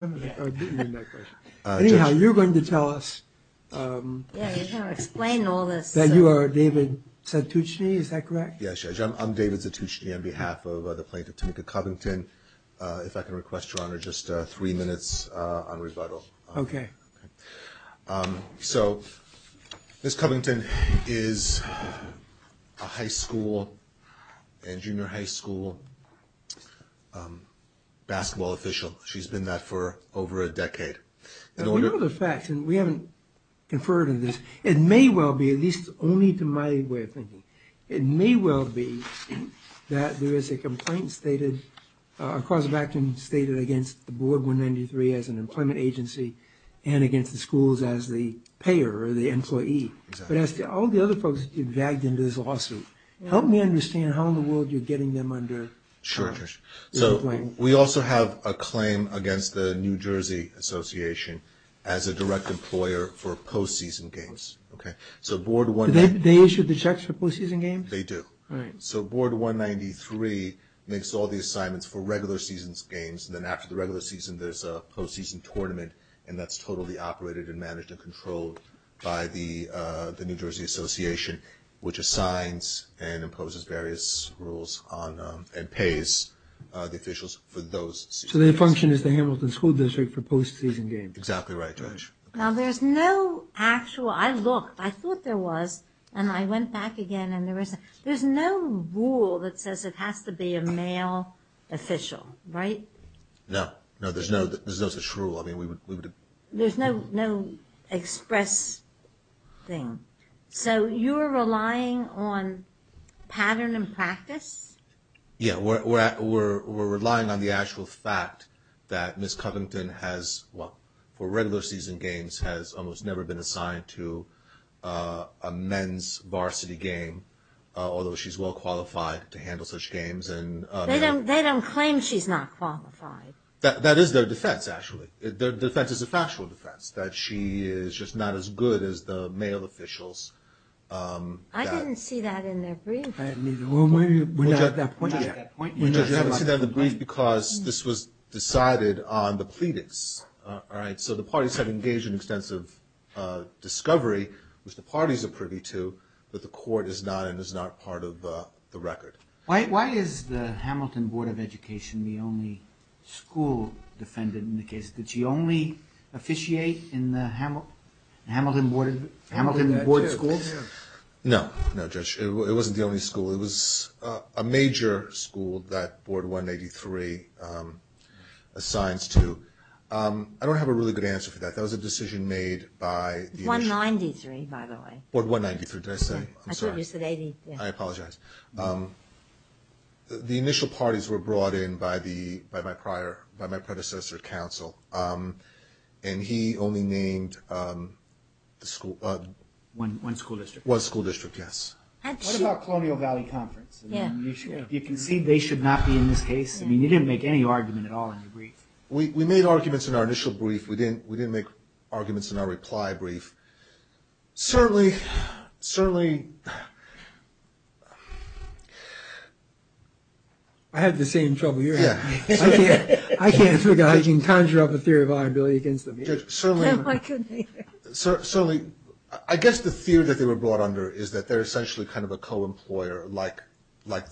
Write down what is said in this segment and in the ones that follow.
I didn't mean that question. Anyhow, you're going to tell us that you are David Satouchne, is that correct? Yes, Judge. I'm David Satouchne on behalf of the plaintiff, Tamika Covington. If I can request, Your Honor, just three minutes on rebuttal. Okay. So, Ms. Covington is a high school and junior high school basketball official. She's been that for over a decade. We know the facts, and we haven't conferred on this. It may well be, at least only to my way of thinking, it may well be that there is a complaint stated, a cause of action stated against the Board 193 as an employment agency and against the schools as the payer or the employee. But as to all the other folks that you've dragged into this lawsuit, help me understand how in the world you're getting them under this claim. We also have a claim against the New Jersey Association as a direct employer for postseason games. Do they issue the checks for postseason games? They do. All right. So, Board 193 makes all the assignments for regular season games, and then after the regular season, there's a postseason tournament, and that's totally operated and managed and controlled by the New Jersey Association, which assigns and imposes various rules on and pays the officials for those season games. So, their function is the Hamilton School District for postseason games? Exactly right, Judge. Now, there's no actual – I looked. I thought there was, and I went back again, and there was – there's no rule that says it has to be a male official, right? No. No, there's no such rule. I mean, we would – There's no express thing. So, you're relying on pattern and practice? Yeah, we're relying on the actual fact that Ms. Covington has – well, for regular season games, has almost never been assigned to a men's varsity game, although she's well qualified to handle such games. They don't claim she's not qualified. That is their defense, actually. Their defense is a factual defense, that she is just not as good as the male officials. I didn't see that in their brief. Well, maybe we're not at that point yet. We haven't seen that in the brief because this was decided on the pleadings, all right? So, the parties have engaged in extensive discovery, which the parties are privy to, but the court is not and is not part of the record. Why is the Hamilton Board of Education the only school defendant in the case? Did she only officiate in the Hamilton Board of Schools? No, no, Judge. It wasn't the only school. It was a major school that Board 183 assigns to. I don't have a really good answer for that. That was a decision made by the – 193, by the way. Board 193, did I say? I'm sorry. No, you said 183. I apologize. The initial parties were brought in by my predecessor at council, and he only named the school – One school district. One school district, yes. What about Colonial Valley Conference? Yeah. Do you concede they should not be in this case? I mean, you didn't make any argument at all in your brief. We made arguments in our initial brief. We didn't make arguments in our reply brief. Certainly, certainly – I have the same trouble hearing you. I can't figure out – I can't conjure up a theory of liability against them. Judge, certainly – I couldn't either. Certainly, I guess the theory that they were brought under is that they're essentially kind of a co-employer, like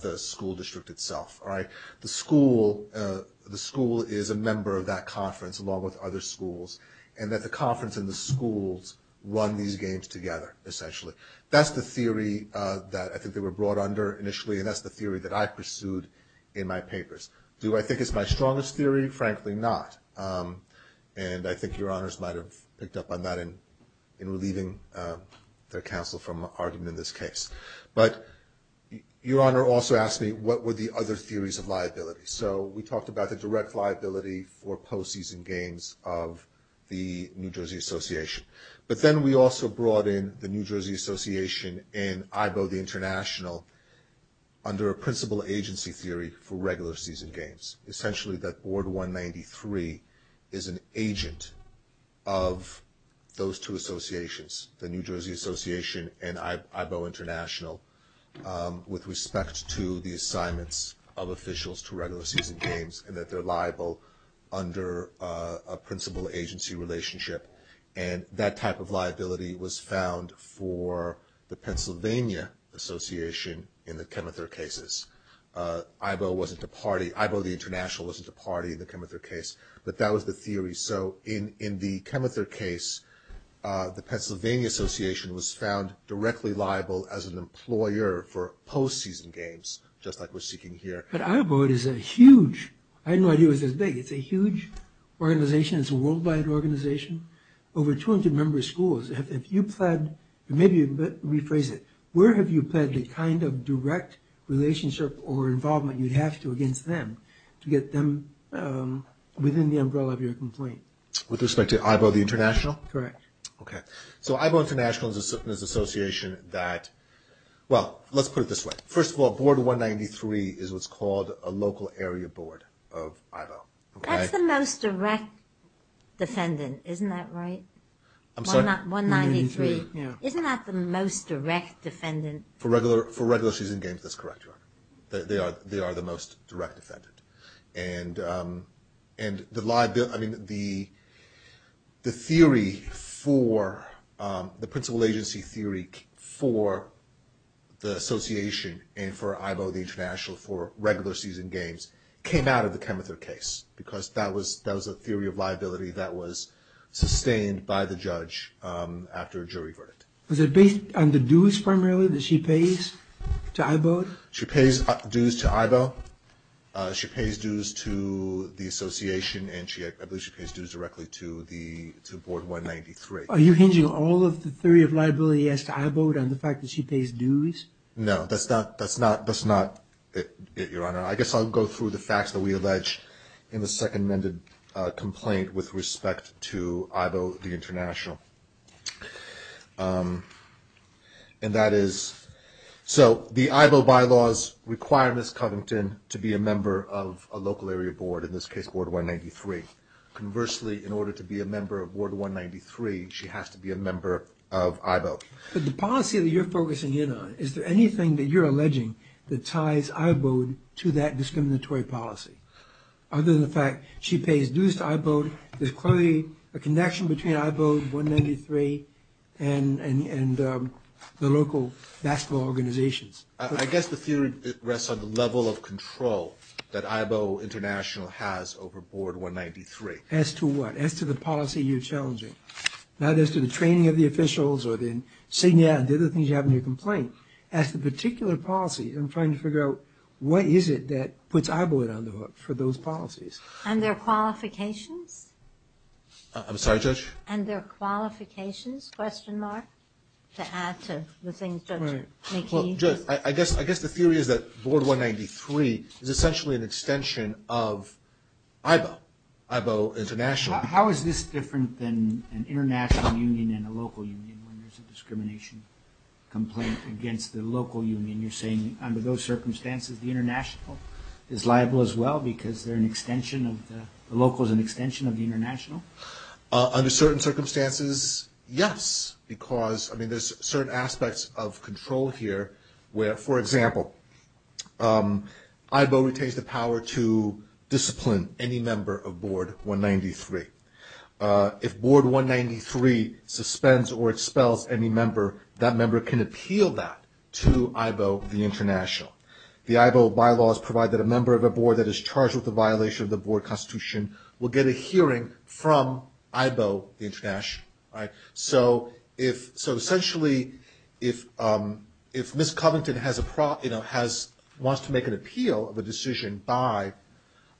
the school district itself, all right? The school is a member of that conference, along with other schools, and that the conference and the schools run these games together, essentially. That's the theory that I think they were brought under initially, and that's the theory that I pursued in my papers. Do I think it's my strongest theory? Frankly, not. And I think Your Honors might have picked up on that in relieving their counsel from arguing in this case. But Your Honor also asked me what were the other theories of liability. So we talked about the direct liability for postseason games of the New Jersey Association. But then we also brought in the New Jersey Association and AIBO the International under a principal agency theory for regular season games, essentially that Board 193 is an agent of those two associations, the New Jersey Association and AIBO International, with respect to the assignments of officials to regular season games and that they're liable under a principal agency relationship. And that type of liability was found for the Pennsylvania Association in the Chemether cases. AIBO the International wasn't a party in the Chemether case, but that was the theory. So in the Chemether case, the Pennsylvania Association was found directly liable as an employer for postseason games, just like we're seeking here. But AIBO is a huge, I had no idea it was this big, it's a huge organization, it's a worldwide organization. Over 200 member schools, if you pled, maybe rephrase it, where have you pled the kind of direct relationship or involvement you'd have to against them to get them within the umbrella of your complaint? With respect to AIBO the International? Correct. Okay. So AIBO International is an association that, well, let's put it this way. First of all, Board 193 is what's called a local area board of AIBO. That's the most direct defendant, isn't that right? I'm sorry? 193. Yeah. Isn't that the most direct defendant? For regular season games, that's correct, Your Honor. They are the most direct defendant. And the theory for, the principal agency theory for the association and for AIBO the International for regular season games came out of the Chemether case, because that was a theory of liability that was sustained by the judge after a jury verdict. Was it based on the dues primarily that she pays to AIBO? She pays dues to AIBO. She pays dues to the association, and I believe she pays dues directly to Board 193. Are you hinging all of the theory of liability asked to AIBO on the fact that she pays dues? No, that's not it, Your Honor. I guess I'll go through the facts that we allege in the second amended complaint with respect to AIBO the International. And that is, so the AIBO bylaws require Ms. Covington to be a member of a local area board, in this case, Board 193. Conversely, in order to be a member of Board 193, she has to be a member of AIBO. But the policy that you're focusing in on, is there anything that you're alleging that ties AIBO to that discriminatory policy? Other than the fact she pays dues to AIBO, there's clearly a connection between AIBO, 193, and the local basketball organizations. I guess the theory rests on the level of control that AIBO International has over Board 193. As to what? As to the policy you're challenging. Not as to the training of the officials or the other things you have in your complaint. As to the particular policy, I'm trying to figure out what is it that puts AIBO on the hook for those policies. And their qualifications? I'm sorry, Judge? And their qualifications, question mark, to add to the things Judge McKee just said. Judge, I guess the theory is that Board 193 is essentially an extension of AIBO, AIBO International. How is this different than an international union and a local union when there's a discrimination complaint against the local union? You're saying under those circumstances, the international is liable as well because the local is an extension of the international? Under certain circumstances, yes. There's certain aspects of control here where, for example, AIBO retains the power to discipline any member of Board 193. If Board 193 suspends or expels any member, that member can appeal that to AIBO International. The AIBO bylaws provide that a member of a board that is charged with a violation of the board constitution will get a hearing from AIBO International. So essentially, if Ms. Covington wants to make an appeal of a decision by,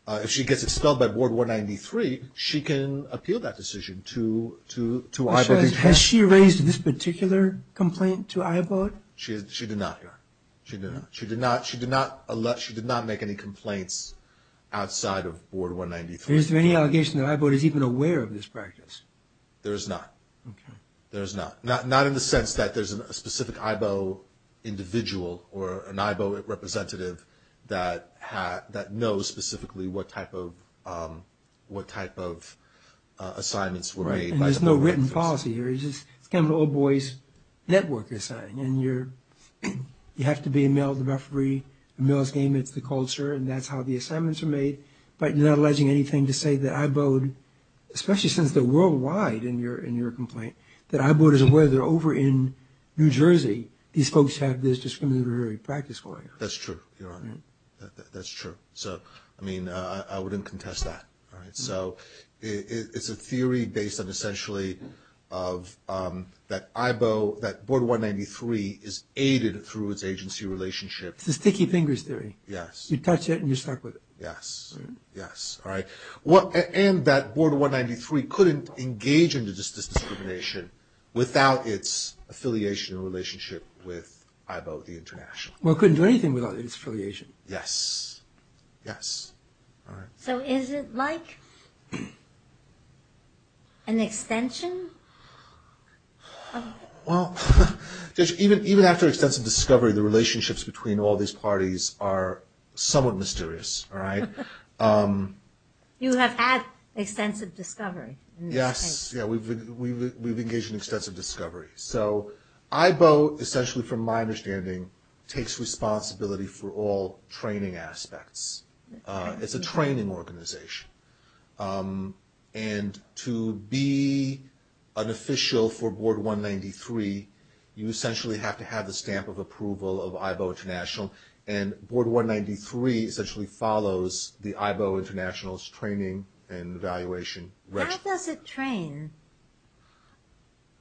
if she gets expelled by Board 193, she can appeal that decision to AIBO International. Has she raised this particular complaint to AIBO? She did not, Your Honor. She did not. She did not make any complaints outside of Board 193. Is there any allegation that AIBO is even aware of this practice? There is not. Okay. There is not. Not in the sense that there's a specific AIBO individual or an AIBO representative that knows specifically what type of assignments were made. Right. And there's no written policy here. It's kind of an old boys' network assignment. And you have to be a male referee, a male's game, it's the culture, and that's how the assignments are made. But you're not alleging anything to say that AIBO, especially since they're worldwide in your complaint, that AIBO isn't aware they're over in New Jersey. These folks have this discriminatory practice going on. That's true, Your Honor. That's true. So, I mean, I wouldn't contest that. All right. So it's a theory based on essentially of that AIBO, that Board 193 is aided through its agency relationship. It's a sticky fingers theory. Yes. You touch it and you're stuck with it. Yes. Yes. All right. And that Board 193 couldn't engage in this discrimination without its affiliation and relationship with AIBO the international. Well, it couldn't do anything without its affiliation. Yes. Yes. All right. So is it like an extension? Well, even after extensive discovery, the relationships between all these parties are somewhat mysterious, all right? You have had extensive discovery. Yes. Yeah, we've engaged in extensive discovery. So AIBO, essentially from my understanding, takes responsibility for all training aspects. It's a training organization. And to be an official for Board 193, you essentially have to have the stamp of approval of AIBO international. And Board 193 essentially follows the AIBO international's training and evaluation. How does it train?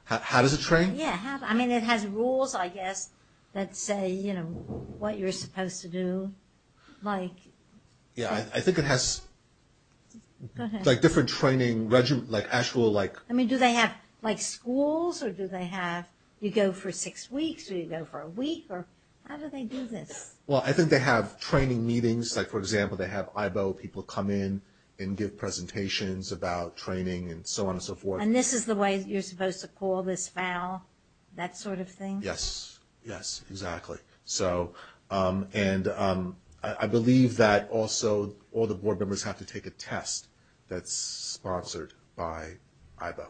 How does it train? Yeah. I mean, it has rules, I guess, that say, you know, what you're supposed to do. Yeah, I think it has, like, different training, like, actual, like. I mean, do they have, like, schools? Or do they have, you go for six weeks, or you go for a week? Or how do they do this? Well, I think they have training meetings. Like, for example, they have AIBO people come in and give presentations about training and so on and so forth. And this is the way you're supposed to call this foul, that sort of thing? Yes. Yes, exactly. So, and I believe that also all the board members have to take a test that's sponsored by AIBO.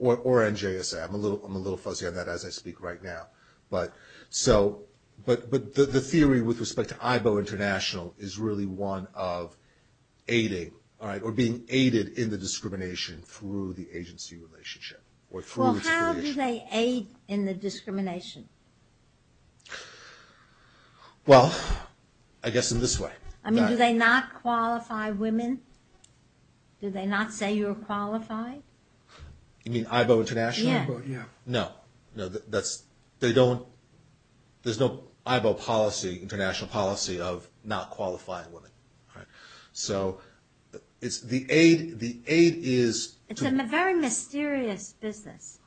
Or NJSA. I'm a little fuzzy on that as I speak right now. But so, but the theory with respect to AIBO international is really one of aiding, all right, or being aided in the discrimination through the agency relationship. Well, how do they aid in the discrimination? Well, I guess in this way. I mean, do they not qualify women? Do they not say you're qualified? You mean AIBO international? Yeah. No. No, that's, they don't, there's no AIBO policy, international policy of not qualifying women. All right. So, it's the aid, the aid is. It's a very mysterious business.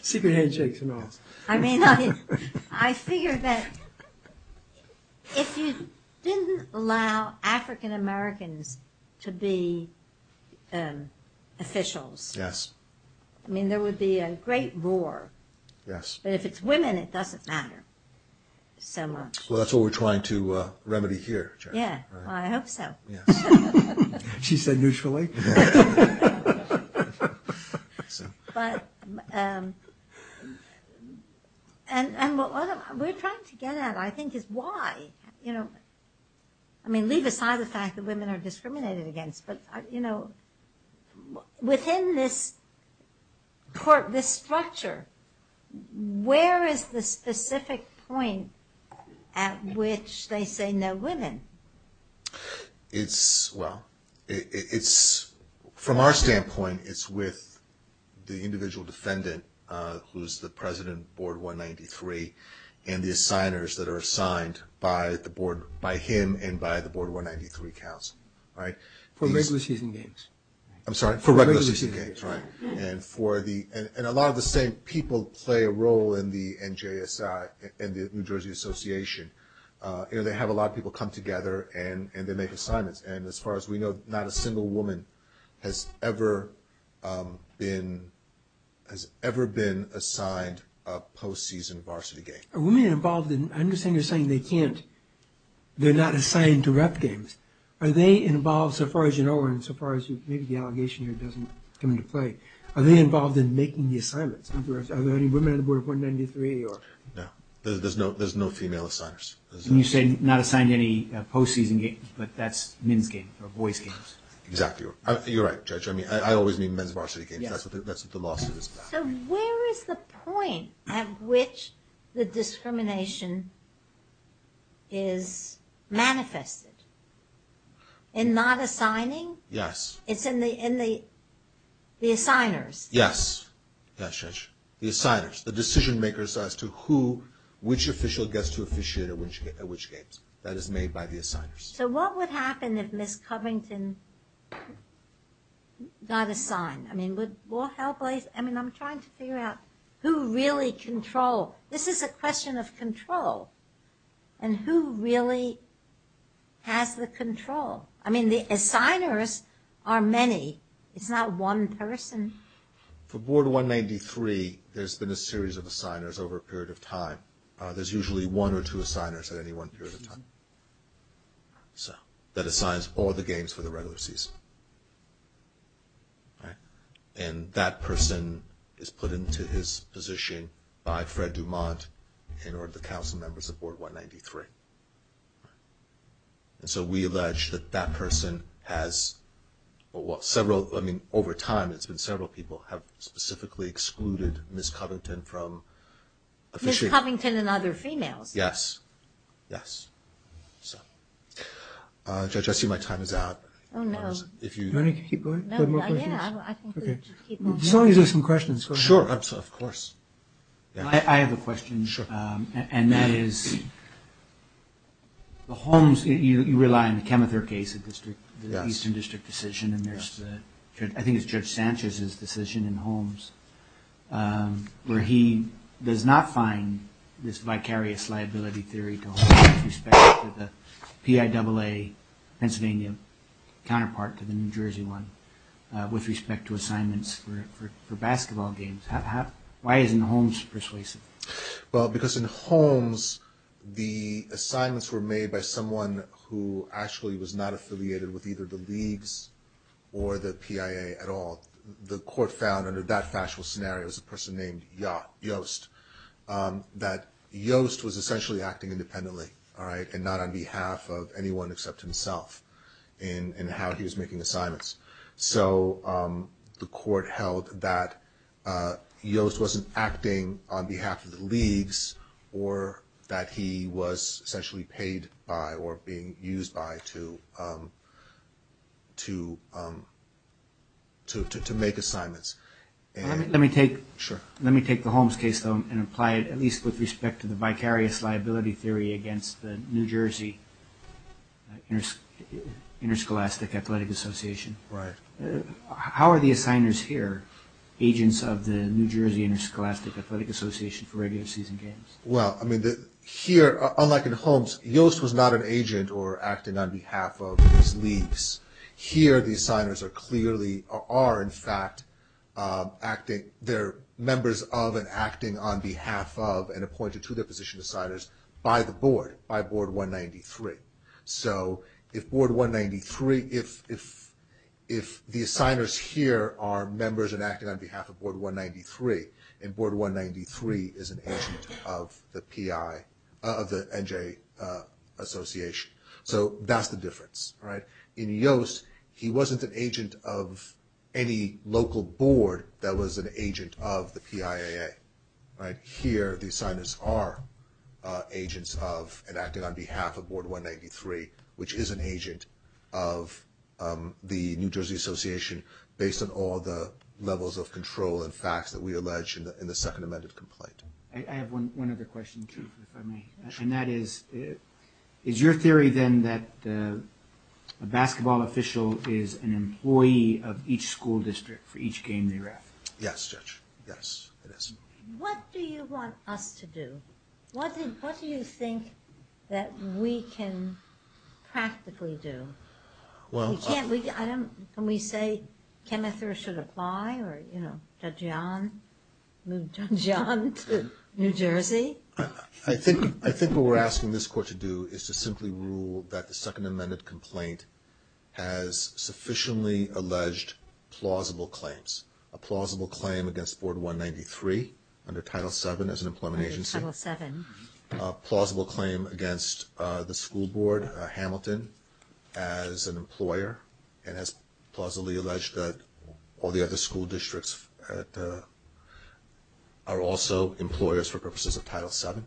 Secret handshakes and all. I mean, I figure that if you didn't allow African Americans to be officials. Yes. I mean, there would be a great roar. Yes. But if it's women, it doesn't matter so much. Well, that's what we're trying to remedy here. Yeah. Well, I hope so. Yes. She said neutrally. But, and what we're trying to get at, I think, is why. You know, I mean, leave aside the fact that women are discriminated against. But, you know, within this structure, where is the specific point at which they say no women? It's, well, it's, from our standpoint, it's with the individual defendant, who's the president of board 193, and the assigners that are assigned by the board, by him and by the board 193 council. All right. For regular season games. I'm sorry. For regular season games. For regular season games, right. And for the, and a lot of the same people play a role in the NJSI, in the New Jersey Association. You know, they have a lot of people come together and they make assignments. And as far as we know, not a single woman has ever been assigned a post-season varsity game. Are women involved in, I understand you're saying they can't, they're not assigned to rep games. Are they involved, so far as you know, and so far as maybe the allegation here doesn't come into play, are they involved in making the assignments? Are there any women on the board of 193? No. There's no female assigners. And you say not assigned any post-season games, but that's men's games or boys' games. Exactly. You're right, Judge. I mean, I always mean men's varsity games. That's what the lawsuit is about. So where is the point at which the discrimination is manifested? In not assigning? Yes. It's in the assigners. Yes. Yes, Judge. The assigners. The decision-makers as to who, which official gets to officiate at which games. That is made by the assigners. So what would happen if Ms. Covington got assigned? I mean, would more help arise? I mean, I'm trying to figure out who really controls. This is a question of control. And who really has the control? I mean, the assigners are many. It's not one person. For Board 193, there's been a series of assigners over a period of time. There's usually one or two assigners at any one period of time. So that assigns all the games for the regular season. And that person is put into his position by Fred Dumont and or the council members of Board 193. And so we allege that that person has, well, several, I mean, over time, it's been several people have specifically excluded Ms. Covington from officiating. Ms. Covington and other females. Yes. Yes. So, Judge, I see my time is out. Oh, no. Do you want to keep going? No, yeah, I think we should keep going. As long as there's some questions, go ahead. Sure, of course. I have a question. Sure. And that is, the Holmes, you rely on the Chemether case, the Eastern District decision, and there's the, I think it's Judge Sanchez's decision in Holmes, where he does not find this vicarious liability theory to hold much respect to the PIAA Pennsylvania counterpart to the New Jersey one with respect to assignments for basketball games. Why isn't Holmes persuasive? Well, because in Holmes, the assignments were made by someone who actually was not affiliated with either the leagues or the PIAA at all. The court found under that factual scenario, it was a person named Yost, that Yost was essentially acting independently, all right, and not on behalf of anyone except himself in how he was making assignments. So the court held that Yost wasn't acting on behalf of the leagues or that he was essentially paid by or being used by to make assignments. Let me take the Holmes case, though, and apply it at least with respect to the vicarious liability theory against the New Jersey Interscholastic Athletic Association. Right. How are the assigners here, agents of the New Jersey Interscholastic Athletic Association for regular season games? Well, I mean, here, unlike in Holmes, Yost was not an agent or acting on behalf of these leagues. Here, the assigners are clearly, are in fact acting, they're members of and acting on behalf of and appointed to their position as signers by the board, by Board 193. So if Board 193, if the signers here are members and acting on behalf of Board 193, then Board 193 is an agent of the PI, of the NJ Association. So that's the difference, all right. In Yost, he wasn't an agent of any local board that was an agent of the PIAA. Right. Here, the signers are agents of and acting on behalf of Board 193, which is an agent of the New Jersey Association based on all the levels of control and facts that we allege in the second amended complaint. I have one other question, too, if I may. Sure. And that is, is your theory then that a basketball official is an employee of each school district for each game they ref? Yes, Judge. Yes, it is. What do you want us to do? What do you think that we can practically do? We can't, I don't, can we say Chemether should apply or, you know, Judge Young, move Judge Young to New Jersey? I think what we're asking this court to do is to simply rule that the second amended complaint has sufficiently alleged plausible claims, a plausible claim against Board 193 under Title VII as an employment agency. Under Title VII. A plausible claim against the school board, Hamilton, as an employer, and has plausibly alleged that all the other school districts are also employers for purposes of Title VII.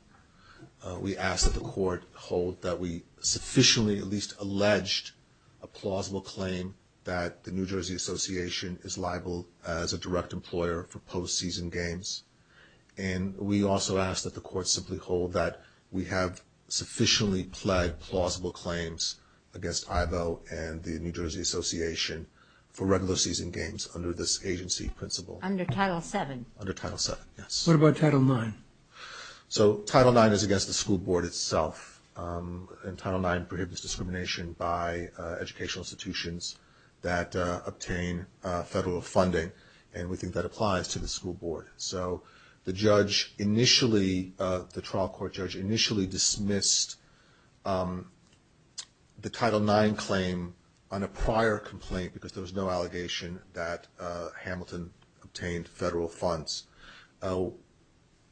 We ask that the court hold that we sufficiently at least alleged a plausible claim that the New Jersey Association is liable as a direct employer for postseason games. And we also ask that the court simply hold that we have sufficiently pled plausible claims against Ivo and the New Jersey Association for regular season games under this agency principle. Under Title VII. Under Title VII, yes. What about Title IX? So Title IX is against the school board itself, and Title IX prohibits discrimination by educational institutions that obtain federal funding, and we think that applies to the school board. So the judge initially, the trial court judge initially dismissed the Title IX claim on a prior complaint because there was no allegation that Hamilton obtained federal funds.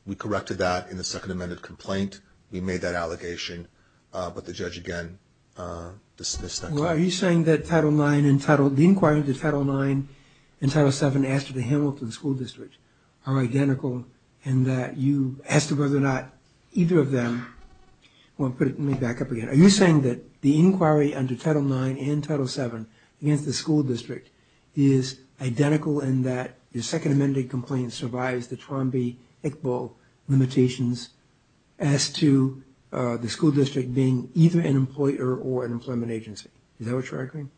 We corrected that in the second amended complaint. We made that allegation, but the judge again dismissed that claim. Well, are you saying that Title IX and Title IX, the inquiry into Title IX and Title VII after the Hamilton School District are identical in that you asked whether or not either of them, well, put it, let me back up again. Are you saying that the inquiry under Title IX and Title VII against the school district is identical in that the second amended complaint survives the Trombi-Iqbal limitations as to the school district being either an employer or an employment agency? Is that what you're arguing?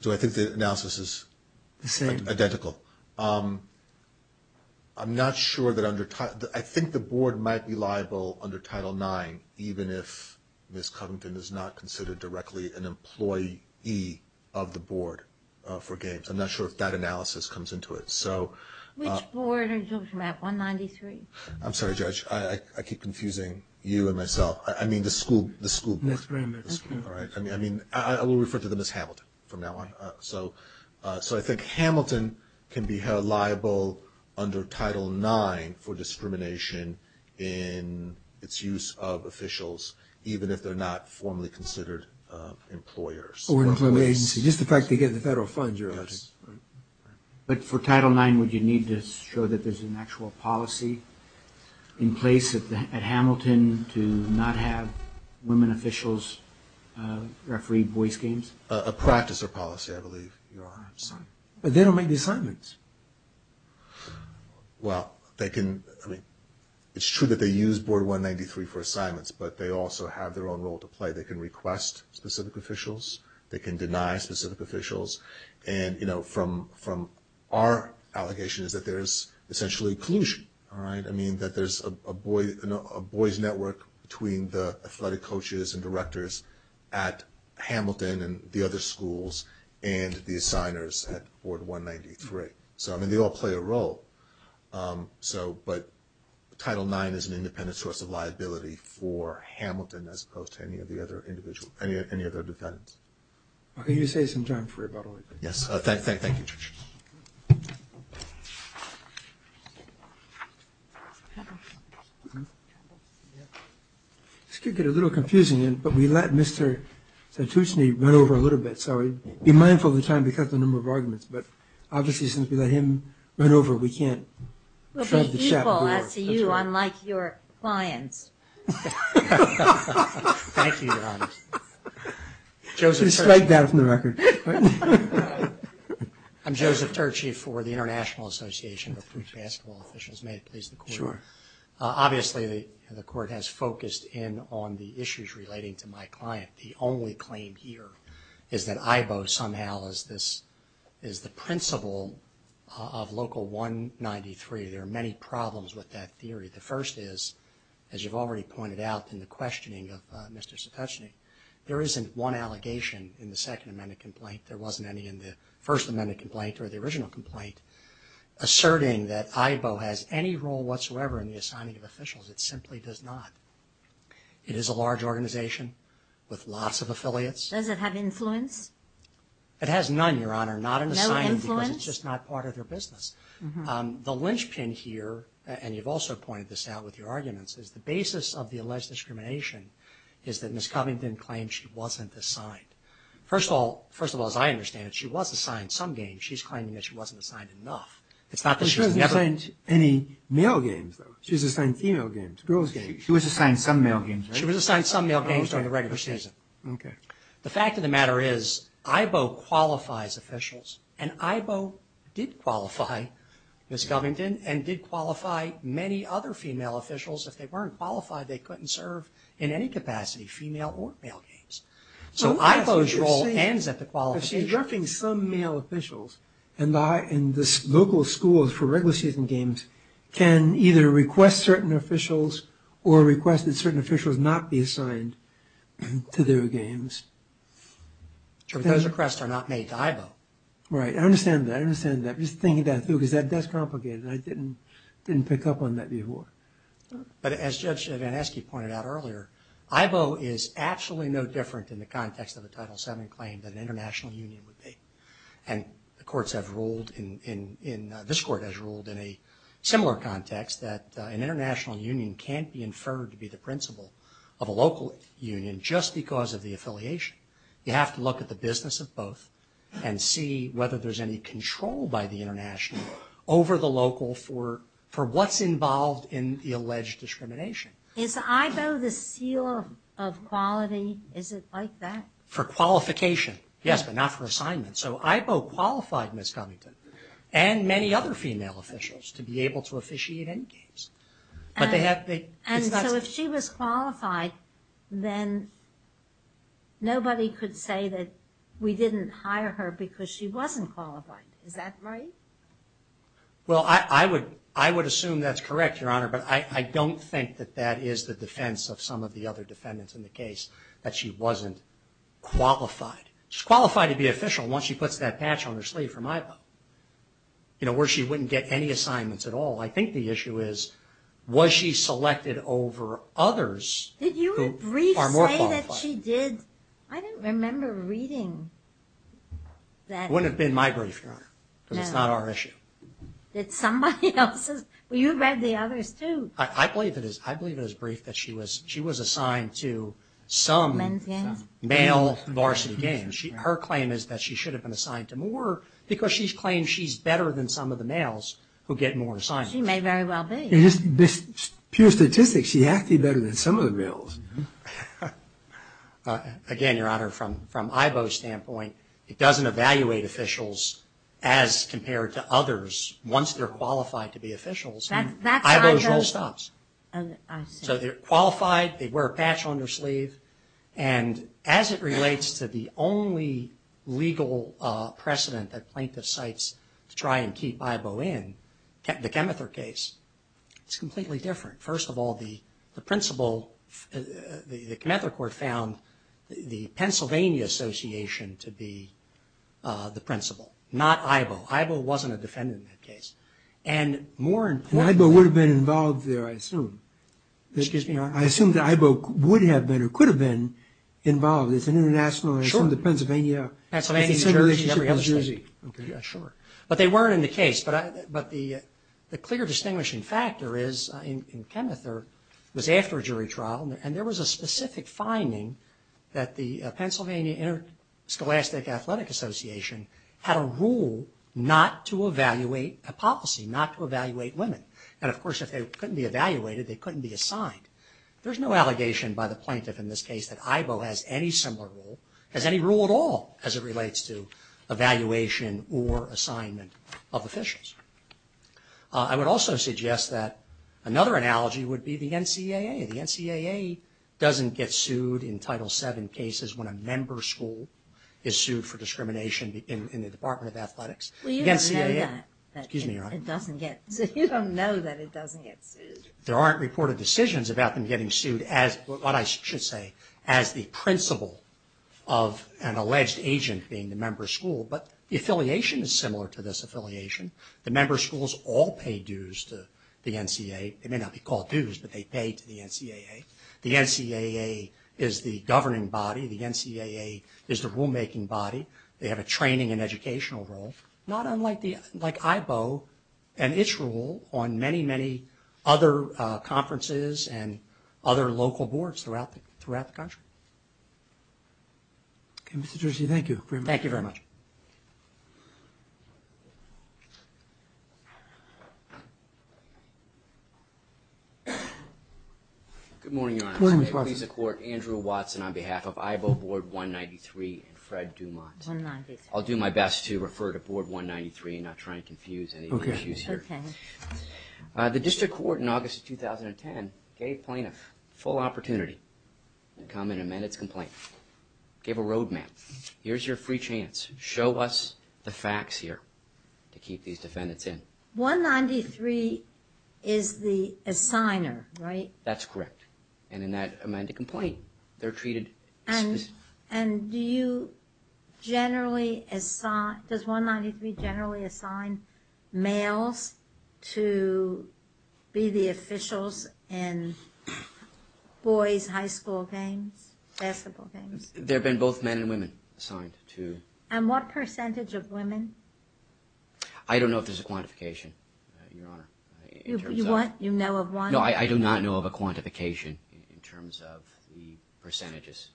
So I think the analysis is identical. The same. I'm not sure that under, I think the board might be liable under Title IX, even if Ms. Covington is not considered directly an employee of the board for games. I'm not sure if that analysis comes into it. Which board are you talking about, 193? I'm sorry, Judge, I keep confusing you and myself. I mean the school board. Yes, very much. All right. I mean, I will refer to them as Hamilton from now on. So I think Hamilton can be held liable under Title IX for discrimination in its use of officials, even if they're not formally considered employers. Or an employment agency. Just the fact they get the federal funds. But for Title IX, would you need to show that there's an actual policy in place at Hamilton to not have women officials referee voice games? A practice or policy, I believe. But they don't make the assignments. Well, they can – I mean, it's true that they use Board 193 for assignments, but they also have their own role to play. They can request specific officials. They can deny specific officials. And, you know, from our allegation is that there's essentially collusion, all right? at Hamilton and the other schools and the assigners at Board 193. So, I mean, they all play a role. So – but Title IX is an independent source of liability for Hamilton as opposed to any of the other individuals – any other defendants. Can you say some time for rebuttal? Yes. Thank you. Thank you. This could get a little confusing, but we let Mr. Santucci run over a little bit, so be mindful of the time because of the number of arguments. But obviously, since we let him run over, we can't – We'll be equal as to you, unlike your clients. Thank you, Your Honor. Joseph Turchy. I'm Joseph Turchy for the International Association of Basketball Officials. May it please the Court. Sure. Obviously, the Court has focused in on the issues relating to my client. The only claim here is that IBO somehow is the principle of Local 193. There are many problems with that theory. The first is, as you've already pointed out in the questioning of Mr. Santucci, there isn't one allegation in the Second Amendment complaint, there wasn't any in the First Amendment complaint or the original complaint, asserting that IBO has any role whatsoever in the assigning of officials. It simply does not. It is a large organization with lots of affiliates. Does it have influence? It has none, Your Honor, not in the signing because it's just not part of their business. The linchpin here, and you've also pointed this out with your arguments, is the basis of the alleged discrimination is that Ms. Covington claims she wasn't assigned. First of all, as I understand it, she was assigned some games. She's claiming that she wasn't assigned enough. It's not that she was never assigned any male games, though. She was assigned female games, girls games. She was assigned some male games, right? She was assigned some male games during the regular season. Okay. The fact of the matter is IBO qualifies officials, and IBO did qualify Ms. Covington and did qualify many other female officials. If they weren't qualified, they couldn't serve in any capacity, female or male games. So IBO's role ends at the qualification. But she's referring to some male officials, and the local schools for regular season games can either request certain officials or request that certain officials not be assigned to their games. But those requests are not made to IBO. Right. I understand that. I understand that. I'm just thinking that through because that's complicated, and I didn't pick up on that before. But as Judge Van Esky pointed out earlier, IBO is absolutely no different in the context of a Title VII claim than an international union would be. And the courts have ruled in – this court has ruled in a similar context that an international union can't be inferred to be the principal of a local union just because of the affiliation. You have to look at the business of both and see whether there's any control by the international over the local for what's involved in the alleged discrimination. Is IBO the seal of quality? Is it like that? For qualification, yes, but not for assignment. So IBO qualified Ms. Covington and many other female officials to be able to officiate in games. And so if she was qualified, then nobody could say that we didn't hire her because she wasn't qualified. Is that right? Well, I would assume that's correct, Your Honor, but I don't think that that is the defense of some of the other defendants in the case, that she wasn't qualified. She's qualified to be official once she puts that patch on her sleeve from IBO, where she wouldn't get any assignments at all. I think the issue is, was she selected over others who are more qualified? Did your brief say that she did? I don't remember reading that. It wouldn't have been my brief, Your Honor, because it's not our issue. Did somebody else's? Well, you read the others, too. I believe it is brief that she was assigned to some male varsity game. Her claim is that she should have been assigned to more because she's claimed she's better than some of the males who get more assignments. She may very well be. Pure statistics, she has to be better than some of the males. Again, Your Honor, from IBO's standpoint, it doesn't evaluate officials as compared to others. Once they're qualified to be officials, IBO's role stops. So they're qualified, they wear a patch on their sleeve, and as it relates to the only legal precedent that plaintiff cites to try and keep IBO in, the Chemether case, it's completely different. First of all, the principal, the Chemether court found the Pennsylvania Association to be the principal, not IBO. IBO wasn't a defendant in that case. And more importantly— And IBO would have been involved there, I assume. Excuse me, Your Honor? I assume that IBO would have been or could have been involved. It's an international— Sure. I assume the Pennsylvania— Pennsylvania, Jersey, every other state. Okay, yeah, sure. But they weren't in the case, but the clear distinguishing factor is in Chemether, it was after a jury trial, and there was a specific finding that the Pennsylvania Interscholastic Athletic Association had a rule not to evaluate a policy, not to evaluate women. And, of course, if they couldn't be evaluated, they couldn't be assigned. There's no allegation by the plaintiff in this case that IBO has any similar rule, has any rule at all as it relates to evaluation or assignment of officials. I would also suggest that another analogy would be the NCAA. The NCAA doesn't get sued in Title VII cases when a member school is sued for discrimination in the Department of Athletics. The NCAA— Well, you don't know that. Excuse me, Your Honor? It doesn't get sued. You don't know that it doesn't get sued. There aren't reported decisions about them getting sued, what I should say, as the principal of an alleged agent being the member school, but the affiliation is similar to this affiliation. The member schools all pay dues to the NCAA. They may not be called dues, but they pay to the NCAA. The NCAA is the governing body. The NCAA is the rulemaking body. They have a training and educational role. Not unlike IBO and its role on many, many other conferences and other local boards throughout the country. Okay, Mr. Jersey, thank you very much. Thank you very much. Good morning, Your Honor. Good morning, Mr. Watson. Please support Andrew Watson on behalf of IBO Board 193 and Fred Dumont. 193. I'll do my best to refer to Board 193 and not try to confuse any of the issues here. Okay. The district court in August of 2010 gave plaintiffs a full opportunity to come and amend its complaint. Gave a roadmap. Here's your free chance. Show us the facts here to keep these defendants in. 193 is the assigner, right? That's correct. And in that amended complaint, they're treated specifically. And do you generally assign, does 193 generally assign males to be the officials in boys' high school games, basketball games? There have been both men and women assigned to. And what percentage of women? I don't know if there's a quantification, Your Honor. You know of one? No, I do not know of a quantification in terms of the percentages.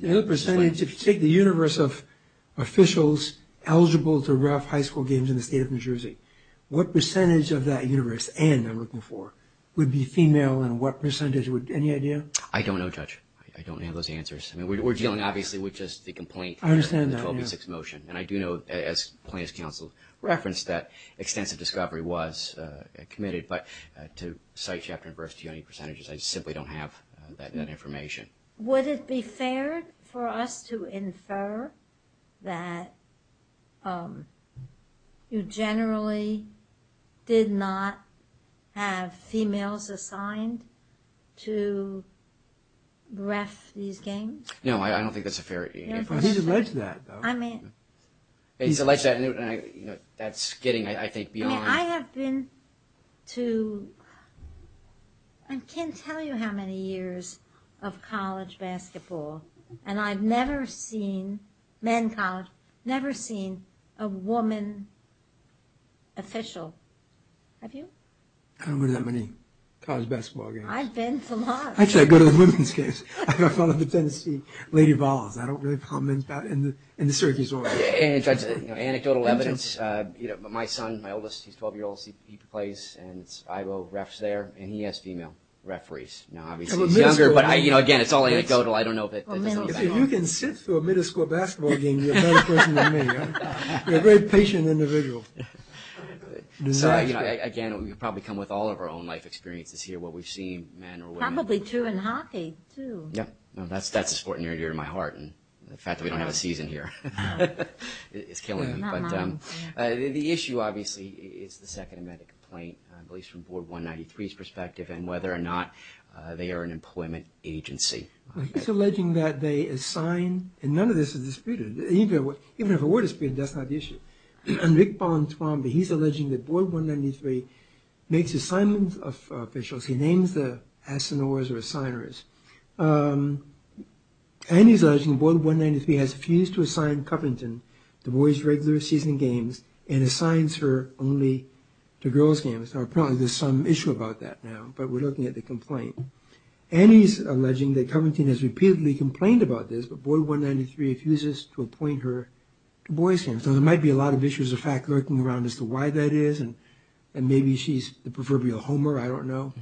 The percentage, if you take the universe of officials eligible to rough high school games in the state of New Jersey, what percentage of that universe, and I'm looking for, would be female and what percentage? Any idea? I don't know, Judge. I don't have those answers. I mean, we're dealing obviously with just the complaint. I understand that, yes. And the 1286 motion. And I do know, as plaintiff's counsel referenced, that extensive discovery was committed. But to cite chapter and verse, do you have any percentages? I simply don't have that information. Would it be fair for us to infer that you generally did not have females assigned to rough these games? No, I don't think that's a fair answer. He's alleged that, though. He's alleged that, and that's getting, I think, beyond. I mean, I have been to, I can't tell you how many years of college basketball, and I've never seen, men college, never seen a woman official. Have you? I don't go to that many college basketball games. I've been to lots. Actually, I go to the women's games. I follow the tendency. Lady Vols. I don't really follow men's basketball. And the Syracuse Warriors. Anecdotal evidence, my son, my oldest, he's a 12-year-old. He plays, and I go refs there, and he has female referees. Now, obviously, he's younger, but again, it's all anecdotal. I don't know if it does anything at all. If you can sit through a middle school basketball game, you're a better person than me. You're a very patient individual. So, again, we probably come with all of our own life experiences here, what we've seen, men or women. Probably two in hockey, too. Yep. That's a sport near and dear to my heart, and the fact that we don't have a season here is killing me. But the issue, obviously, is the second amendment complaint, at least from Board 193's perspective, and whether or not they are an employment agency. He's alleging that they assign, and none of this is disputed. Even if it were disputed, that's not the issue. And Rick Bon Twombly, he's alleging that Board 193 makes assignments of officials. He names the assignors or assigners. And he's alleging Board 193 has refused to assign Covington to boys' regular season games and assigns her only to girls' games. Now, probably there's some issue about that now, but we're looking at the complaint. And he's alleging that Covington has repeatedly complained about this, but Board 193 refuses to appoint her to boys' games. So there might be a lot of issues of fact lurking around as to why that is, and maybe she's the proverbial Homer, I don't know.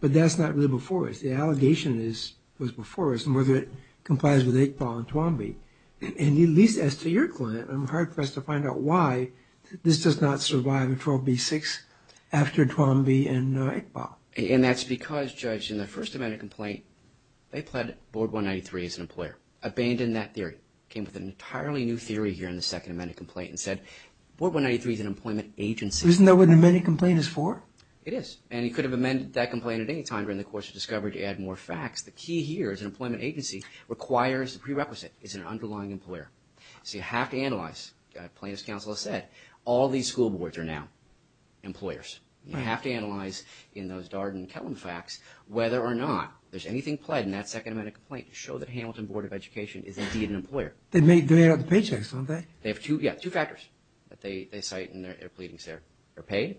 But that's not really before us. The allegation that's before us is whether it complies with Iqbal and Twombly. And at least as to your client, I'm hard-pressed to find out why this does not survive in 12b-6 after Twombly and Iqbal. And that's because, Judge, in the first amendment complaint, they pled Board 193 as an employer, abandoned that theory, came up with an entirely new theory here in the second amendment complaint and said, Board 193 is an employment agency. Isn't that what the amendment complaint is for? It is. And he could have amended that complaint at any time during the course of discovery to add more facts. The key here is an employment agency requires the prerequisite. It's an underlying employer. So you have to analyze, plain as counsel has said, all these school boards are now employers. You have to analyze in those Darden and Kellen facts whether or not there's anything pled in that second amendment complaint to show that Hamilton Board of Education is indeed an employer. They made up the paychecks, don't they? They have two factors that they cite in their pleadings there. They're paid.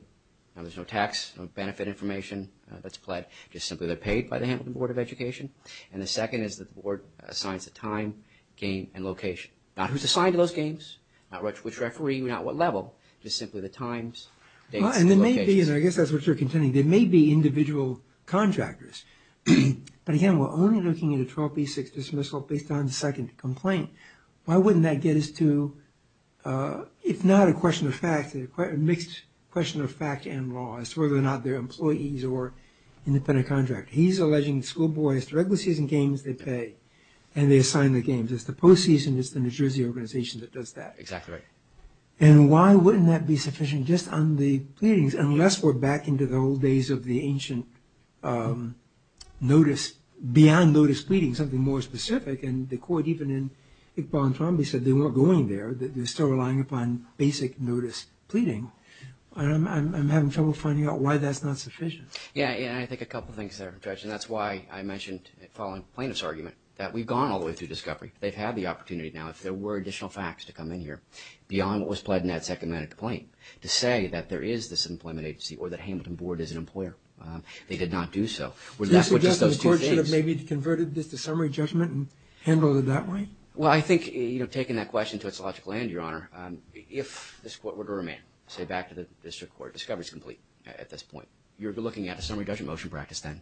Now, there's no tax, no benefit information that's pled. Just simply they're paid by the Hamilton Board of Education. And the second is that the board assigns the time, game, and location. Not who's assigned to those games, not which referee, not what level, just simply the times, dates, and locations. And there may be, and I guess that's what you're contending, there may be individual contractors. But again, we're only looking at a 12b-6 dismissal based on the second complaint. Why wouldn't that get us to, if not a question of fact, a mixed question of fact and law, as to whether or not they're employees or independent contractor. He's alleging school boards, the regular season games, they pay. And they assign the games. It's the postseason, it's the New Jersey organization that does that. Exactly right. And why wouldn't that be sufficient just on the pleadings, unless we're back into the old days of the ancient notice, beyond notice pleadings, and something more specific. And the court, even in Iqbal and Trombi, said they weren't going there. They're still relying upon basic notice pleading. I'm having trouble finding out why that's not sufficient. Yeah, and I think a couple things there, Judge. And that's why I mentioned following plaintiff's argument that we've gone all the way through discovery. They've had the opportunity now, if there were additional facts to come in here, beyond what was pledged in that second matter of complaint, to say that there is this employment agency or that Hamilton Board is an employer. They did not do so. So you're suggesting the court should have maybe converted this to summary judgment and handled it that way? Well, I think, you know, taking that question to its logical end, Your Honor, if this court were to remand, say back to the district court, discovery is complete at this point. You're looking at a summary judgment motion practice then.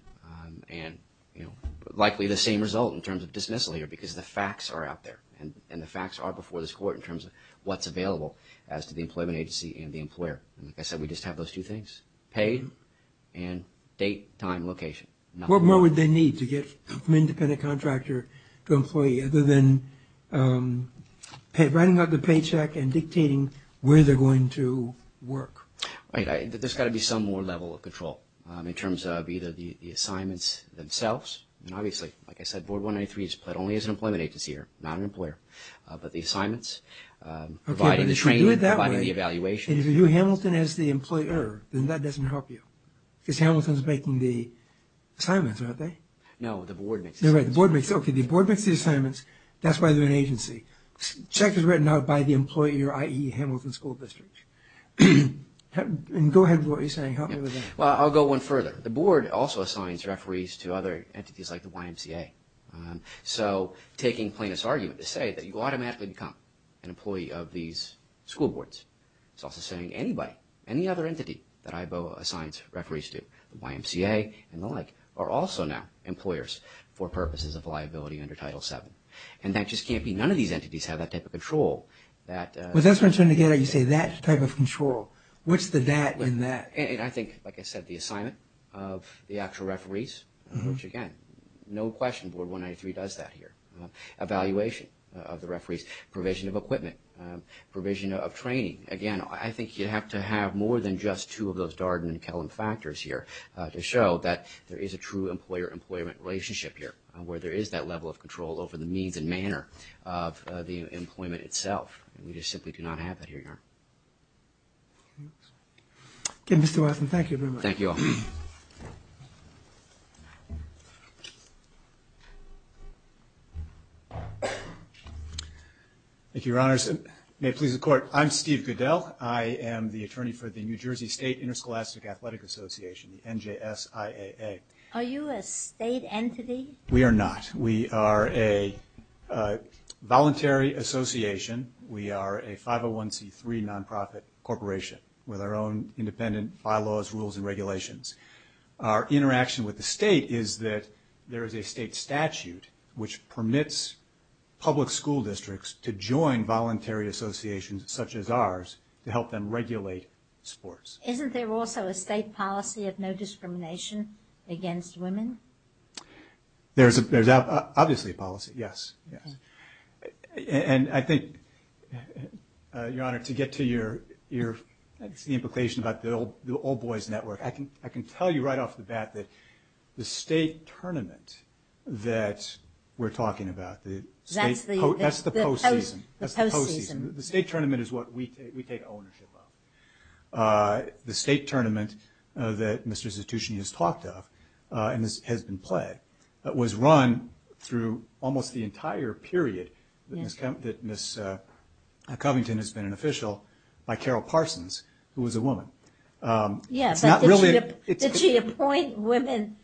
And, you know, likely the same result in terms of dismissal here, because the facts are out there. And the facts are before this court in terms of what's available as to the employment agency and the employer. Like I said, we just have those two things, paid and date, time, location. What more would they need to get from independent contractor to employee other than writing out the paycheck and dictating where they're going to work? Right. There's got to be some more level of control in terms of either the assignments themselves, and obviously, like I said, Board 183 is pled only as an employment agency or not an employer, but the assignments, providing the training, providing the evaluation. And if you view Hamilton as the employer, then that doesn't help you, because Hamilton's making the assignments, aren't they? No, the Board makes the assignments. Okay, the Board makes the assignments. That's why they're an agency. Check is written out by the employer, i.e., Hamilton School District. And go ahead with what you're saying. Help me with that. Well, I'll go one further. The Board also assigns referees to other entities like the YMCA. So taking plaintiff's argument to say that you automatically become an employee of these school boards. It's also saying anybody, any other entity that IBO assigns referees to, the YMCA and the like, are also now employers for purposes of liability under Title VII. And that just can't be. None of these entities have that type of control. Well, that's what I'm trying to get at. You say that type of control. What's the that in that? I think, like I said, the assignment of the actual referees, which, again, no question, does that here. Evaluation of the referees, provision of equipment, provision of training. Again, I think you have to have more than just two of those Darden and Kellum factors here to show that there is a true employer-employment relationship here, where there is that level of control over the means and manner of the employment itself. We just simply do not have that here, Your Honor. Okay, Mr. Watson, thank you very much. Thank you all. Thank you, Your Honors. May it please the Court. I'm Steve Goodell. I am the attorney for the New Jersey State Interscholastic Athletic Association, the NJSIAA. Are you a state entity? We are not. We are a voluntary association. We are a 501c3 nonprofit corporation with our own independent bylaws, rules, and regulations. Our interaction with the state is that there is a state statute which permits public school districts to join voluntary associations such as ours to help them regulate sports. Isn't there also a state policy of no discrimination against women? There's obviously a policy, yes. And I think, Your Honor, to get to your implication about the all-boys network, I can tell you right off the bat that the state tournament that we're talking about, that's the postseason. The postseason. The state tournament is what we take ownership of. The state tournament that Mr. Zitucci has talked of and has been played was run through almost the entire state tournament period that Ms. Covington has been an official by Carol Parsons, who was a woman. Did she appoint women?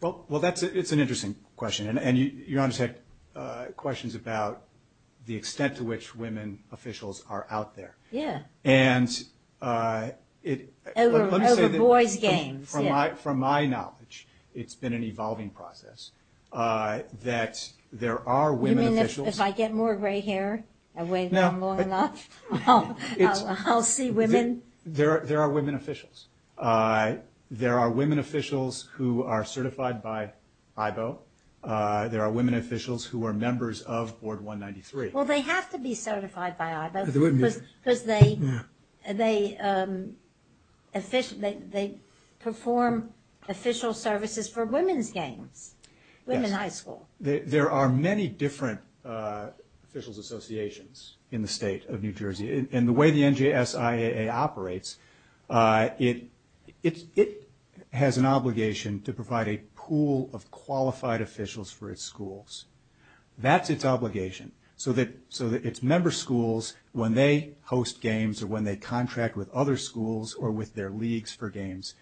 Well, that's an interesting question. And Your Honor's had questions about the extent to which women officials are out there. Yeah. Over boys' games. From my knowledge, it's been an evolving process. That there are women officials. You mean if I get more gray hair and wait long enough, I'll see women? There are women officials. There are women officials who are certified by IBO. There are women officials who are members of Board 193. Well, they have to be certified by IBO because they perform official services for women's games. Women's high school. There are many different officials' associations in the state of New Jersey. And the way the NJSIAA operates, it has an obligation to provide a pool of qualified officials for its schools. That's its obligation. So that its member schools, when they host games or when they contract with other schools or with their leagues for games,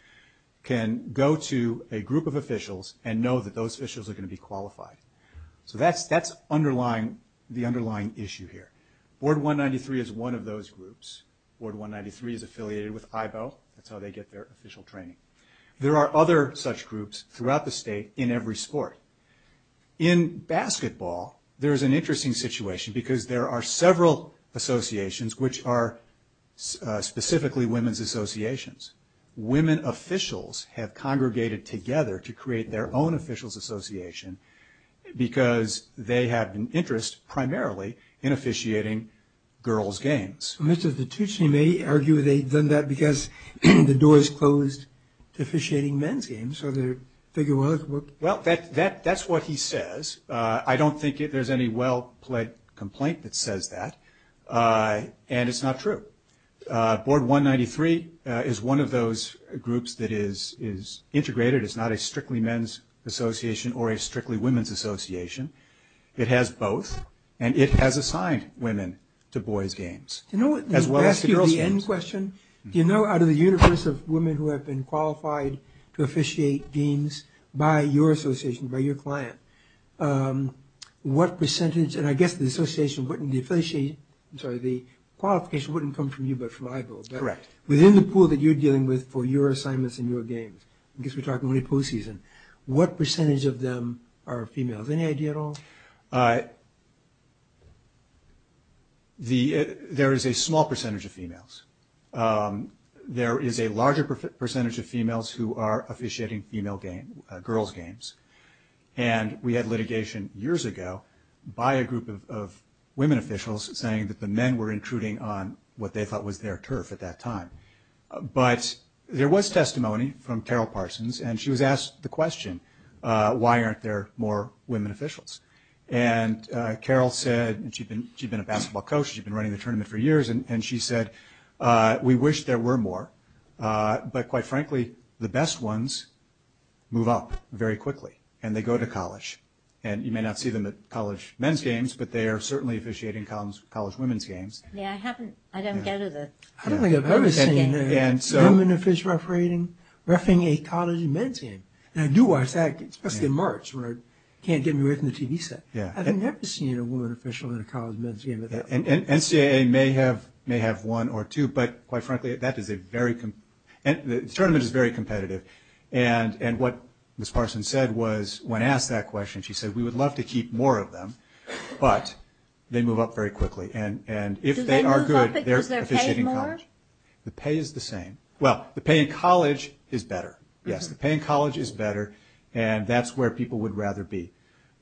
can go to a group of officials and know that those officials are going to be qualified. So that's the underlying issue here. Board 193 is one of those groups. Board 193 is affiliated with IBO. That's how they get their official training. There are other such groups throughout the state in every sport. In basketball, there's an interesting situation because there are several associations, which are specifically women's associations. Women officials have congregated together to create their own officials' association because they have an interest primarily in officiating girls' games. Mr. Titucci may argue they've done that because the door is closed to officiating men's games. So they figure, well, look. Well, that's what he says. I don't think there's any well-plaid complaint that says that. And it's not true. Board 193 is one of those groups that is integrated. It's not a strictly men's association or a strictly women's association. It has both, and it has assigned women to boys' games as well as to girls' games. Can I ask you the end question? Do you know out of the universe of women who have been qualified to officiate games by your association, by your client, what percentage, and I guess the association wouldn't, the affiliation, I'm sorry, the qualification wouldn't come from you but from iBuild. Correct. Within the pool that you're dealing with for your assignments and your games, I guess we're talking only pool season, what percentage of them are females? Any idea at all? There is a small percentage of females. There is a larger percentage of females who are officiating female games, girls' games. And we had litigation years ago by a group of women officials saying that the men were intruding on what they thought was their turf at that time. But there was testimony from Carol Parsons, and she was asked the question, why aren't there more women officials? And Carol said, and she'd been a basketball coach, she'd been running the tournament for years, and she said, we wish there were more. But quite frankly, the best ones move up very quickly, and they go to college. And you may not see them at college men's games, but they are certainly officiating college women's games. Yeah, I haven't, I don't get it. I don't think I've ever seen a woman official refereeing a college men's game. And I do watch that, especially in March when I can't get me away from the TV set. I've never seen a woman official in a college men's game. And NCAA may have one or two, but quite frankly, that is a very, the tournament is very competitive. And what Ms. Parsons said was, when asked that question, she said, we would love to keep more of them, but they move up very quickly. And if they are good, they're officiating college. Do they move up because they're paid more? The pay is the same. Well, the pay in college is better. Yes, the pay in college is better, and that's where people would rather be.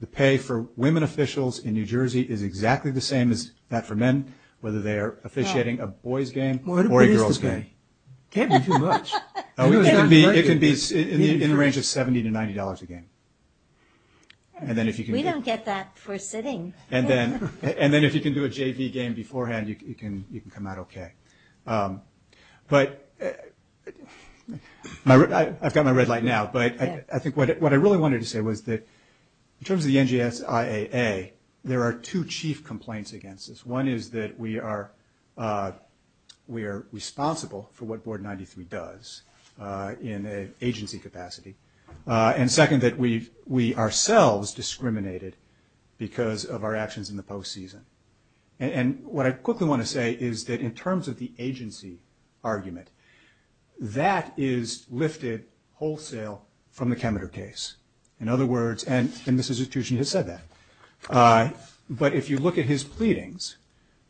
The pay for women officials in New Jersey is exactly the same as that for men, whether they are officiating a boy's game or a girl's game. What is the pay? It can't be too much. It can be in the range of $70 to $90 a game. We don't get that for sitting. And then if you can do a JV game beforehand, you can come out okay. But I've got my red light now. But I think what I really wanted to say was that in terms of the NGSIAA, there are two chief complaints against this. One is that we are responsible for what Board 93 does in an agency capacity. And second, that we ourselves discriminated because of our actions in the postseason. And what I quickly want to say is that in terms of the agency argument, that is lifted wholesale from the Kemeter case. In other words, and Mr. Stuckey has said that. But if you look at his pleadings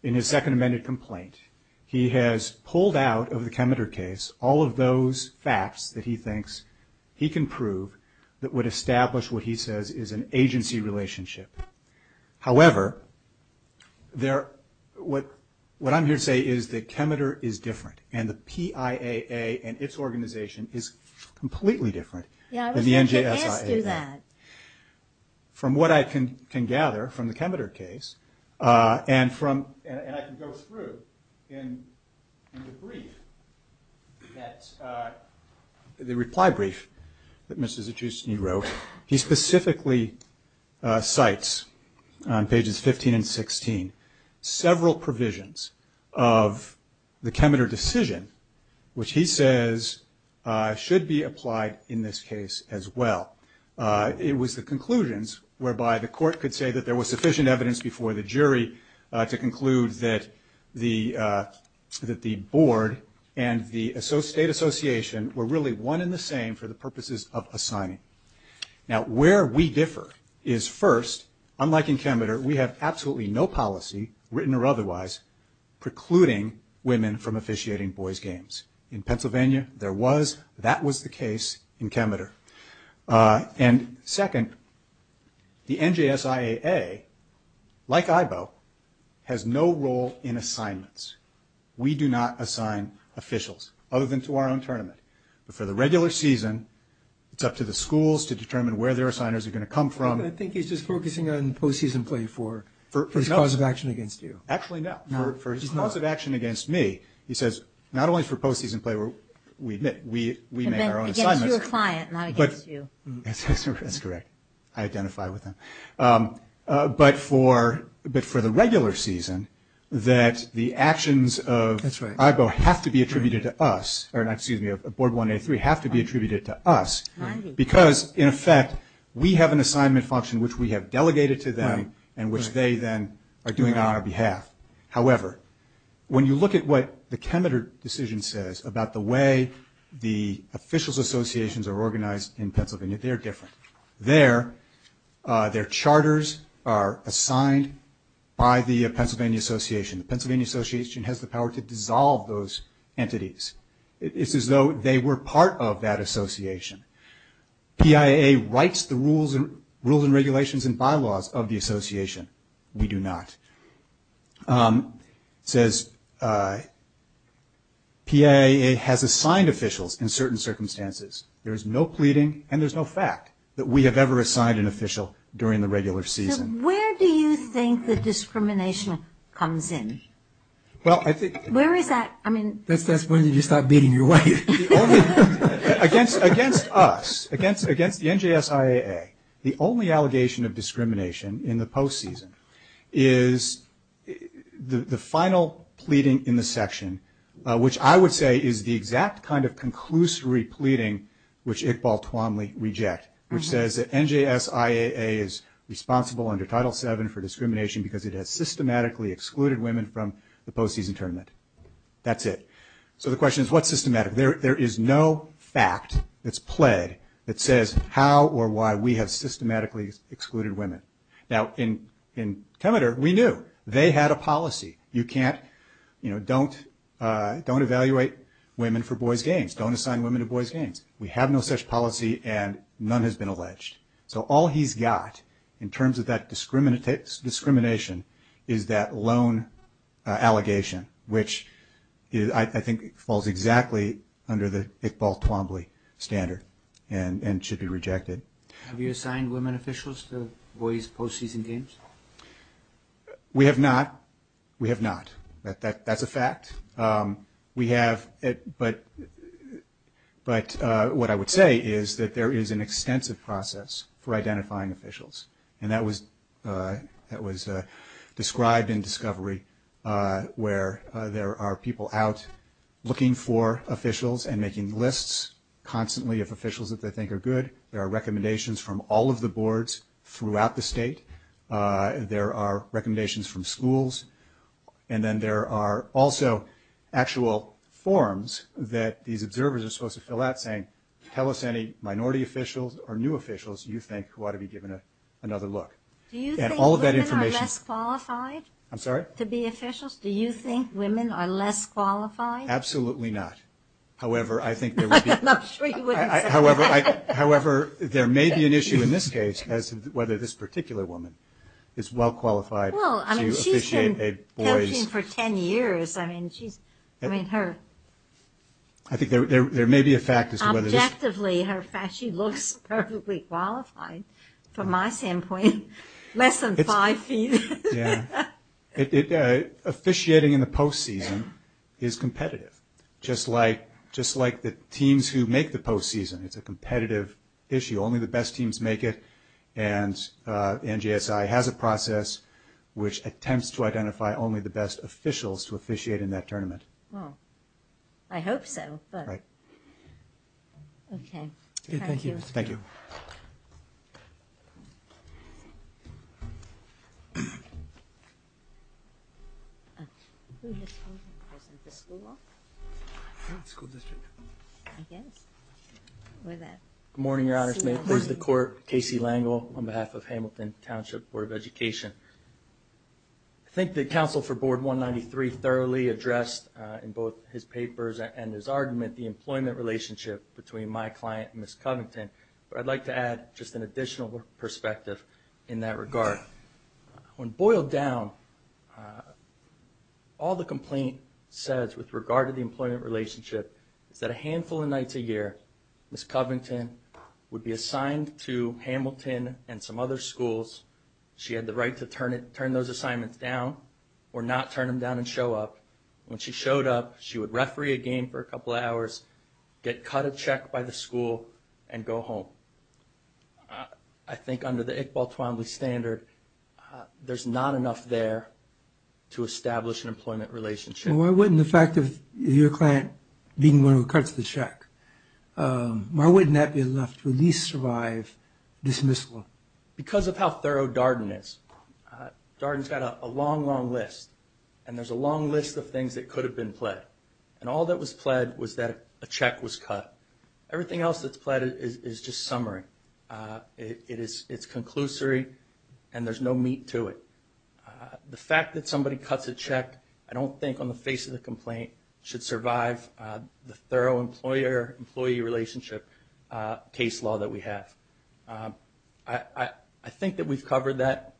in his second amended complaint, he has pulled out of the Kemeter case all of those facts that he thinks he can prove that would establish what he says is an agency relationship. However, what I'm here to say is that Kemeter is different, and the PIAA and its organization is completely different than the NGSIAA. Yeah, I was going to ask you that. From what I can gather from the Kemeter case, and I can go through in the reply brief that Mr. Stuckey wrote, he specifically cites on pages 15 and 16 several provisions of the Kemeter decision, which he says should be applied in this case as well. It was the conclusions whereby the court could say that there was sufficient evidence before the jury to conclude that the board and the state association were really one and the same for the purposes of assigning. Now, where we differ is first, unlike in Kemeter, we have absolutely no policy, written or otherwise, precluding women from officiating boys' games. In Pennsylvania, there was. That was the case in Kemeter. And second, the NGSIAA, like IBO, has no role in assignments. We do not assign officials, other than to our own tournament. But for the regular season, it's up to the schools to determine where their assigners are going to come from. I think he's just focusing on post-season play for his cause of action against you. Actually, no. No, he's not. For his cause of action against me, he says not only for post-season play, we may have our own assignments. Against your client, not against you. That's correct. I identify with him. But for the regular season, that the actions of IBO have to be attributed to us, or excuse me, of Board 1A3, have to be attributed to us, because, in effect, we have an assignment function which we have delegated to them and which they then are doing on our behalf. However, when you look at what the Kemeter decision says about the way the officials' associations are organized in Pennsylvania, they are different. Their charters are assigned by the Pennsylvania Association. The Pennsylvania Association has the power to dissolve those entities. It's as though they were part of that association. PIAA writes the rules and regulations and bylaws of the association. We do not. It says PIAA has assigned officials in certain circumstances. There is no pleading, and there's no fact, that we have ever assigned an official during the regular season. Where do you think the discrimination comes in? Where is that? That's when you start beating your wife. Against us, against the NJS IAA, the only allegation of discrimination in the postseason is the final pleading in the section, which I would say is the exact kind of conclusory pleading which Iqbal Twanle rejects, which says that NJS IAA is responsible under Title VII for discrimination because it has systematically excluded women from the postseason tournament. That's it. So the question is, what's systematic? There is no fact that's pled that says how or why we have systematically excluded women. Now, in Kemeter, we knew. They had a policy. You can't, you know, don't evaluate women for boys' games. Don't assign women to boys' games. We have no such policy, and none has been alleged. So all he's got in terms of that discrimination is that loan allegation, which I think falls exactly under the Iqbal Twanle standard and should be rejected. Have you assigned women officials to boys' postseason games? We have not. We have not. That's a fact. We have, but what I would say is that there is an extensive process for identifying officials, and that was described in discovery where there are people out looking for officials and making lists constantly of officials that they think are good. There are recommendations from all of the boards throughout the state. There are recommendations from schools. And then there are also actual forms that these observers are supposed to fill out saying, tell us any minority officials or new officials you think ought to be given another look. Do you think women are less qualified? I'm sorry? To be officials? Do you think women are less qualified? Absolutely not. However, I think there would be. I'm sure you wouldn't say that. However, there may be an issue in this case as to whether this particular woman is well qualified to officiate. I've been coaching for 10 years. I mean, her. I think there may be a fact as to whether this. Objectively, she looks perfectly qualified from my standpoint, less than five feet. Officiating in the postseason is competitive, just like the teams who make the postseason. It's a competitive issue. Only the best teams make it. And NJSI has a process which attempts to identify only the best officials to officiate in that tournament. Well, I hope so. Okay. Thank you. Thank you. Good morning, Your Honors. May it please the Court. Casey Langel on behalf of Hamilton Township Board of Education. I think the counsel for Board 193 thoroughly addressed in both his papers and his argument the employment relationship between my client and Ms. Covington. But I'd like to add just an additional perspective in that regard. When boiled down, all the complaint says with regard to the employment relationship is that a handful of nights a year, Ms. Covington would be assigned to Hamilton and some other schools. She had the right to turn those assignments down or not turn them down and show up. When she showed up, she would referee a game for a couple of hours, get cut a check by the school, and go home. I think under the Iqbal Twombly standard, there's not enough there to establish an employment relationship. Why wouldn't the fact of your client being one who cuts the check, why wouldn't that be enough to at least survive dismissal? Because of how thorough Darden is. Darden's got a long, long list. And there's a long list of things that could have been pled. And all that was pled was that a check was cut. Everything else that's pled is just summary. It's conclusory and there's no meat to it. The fact that somebody cuts a check, I don't think on the face of the complaint, should survive the thorough employer-employee relationship case law that we have. I think that we've covered that.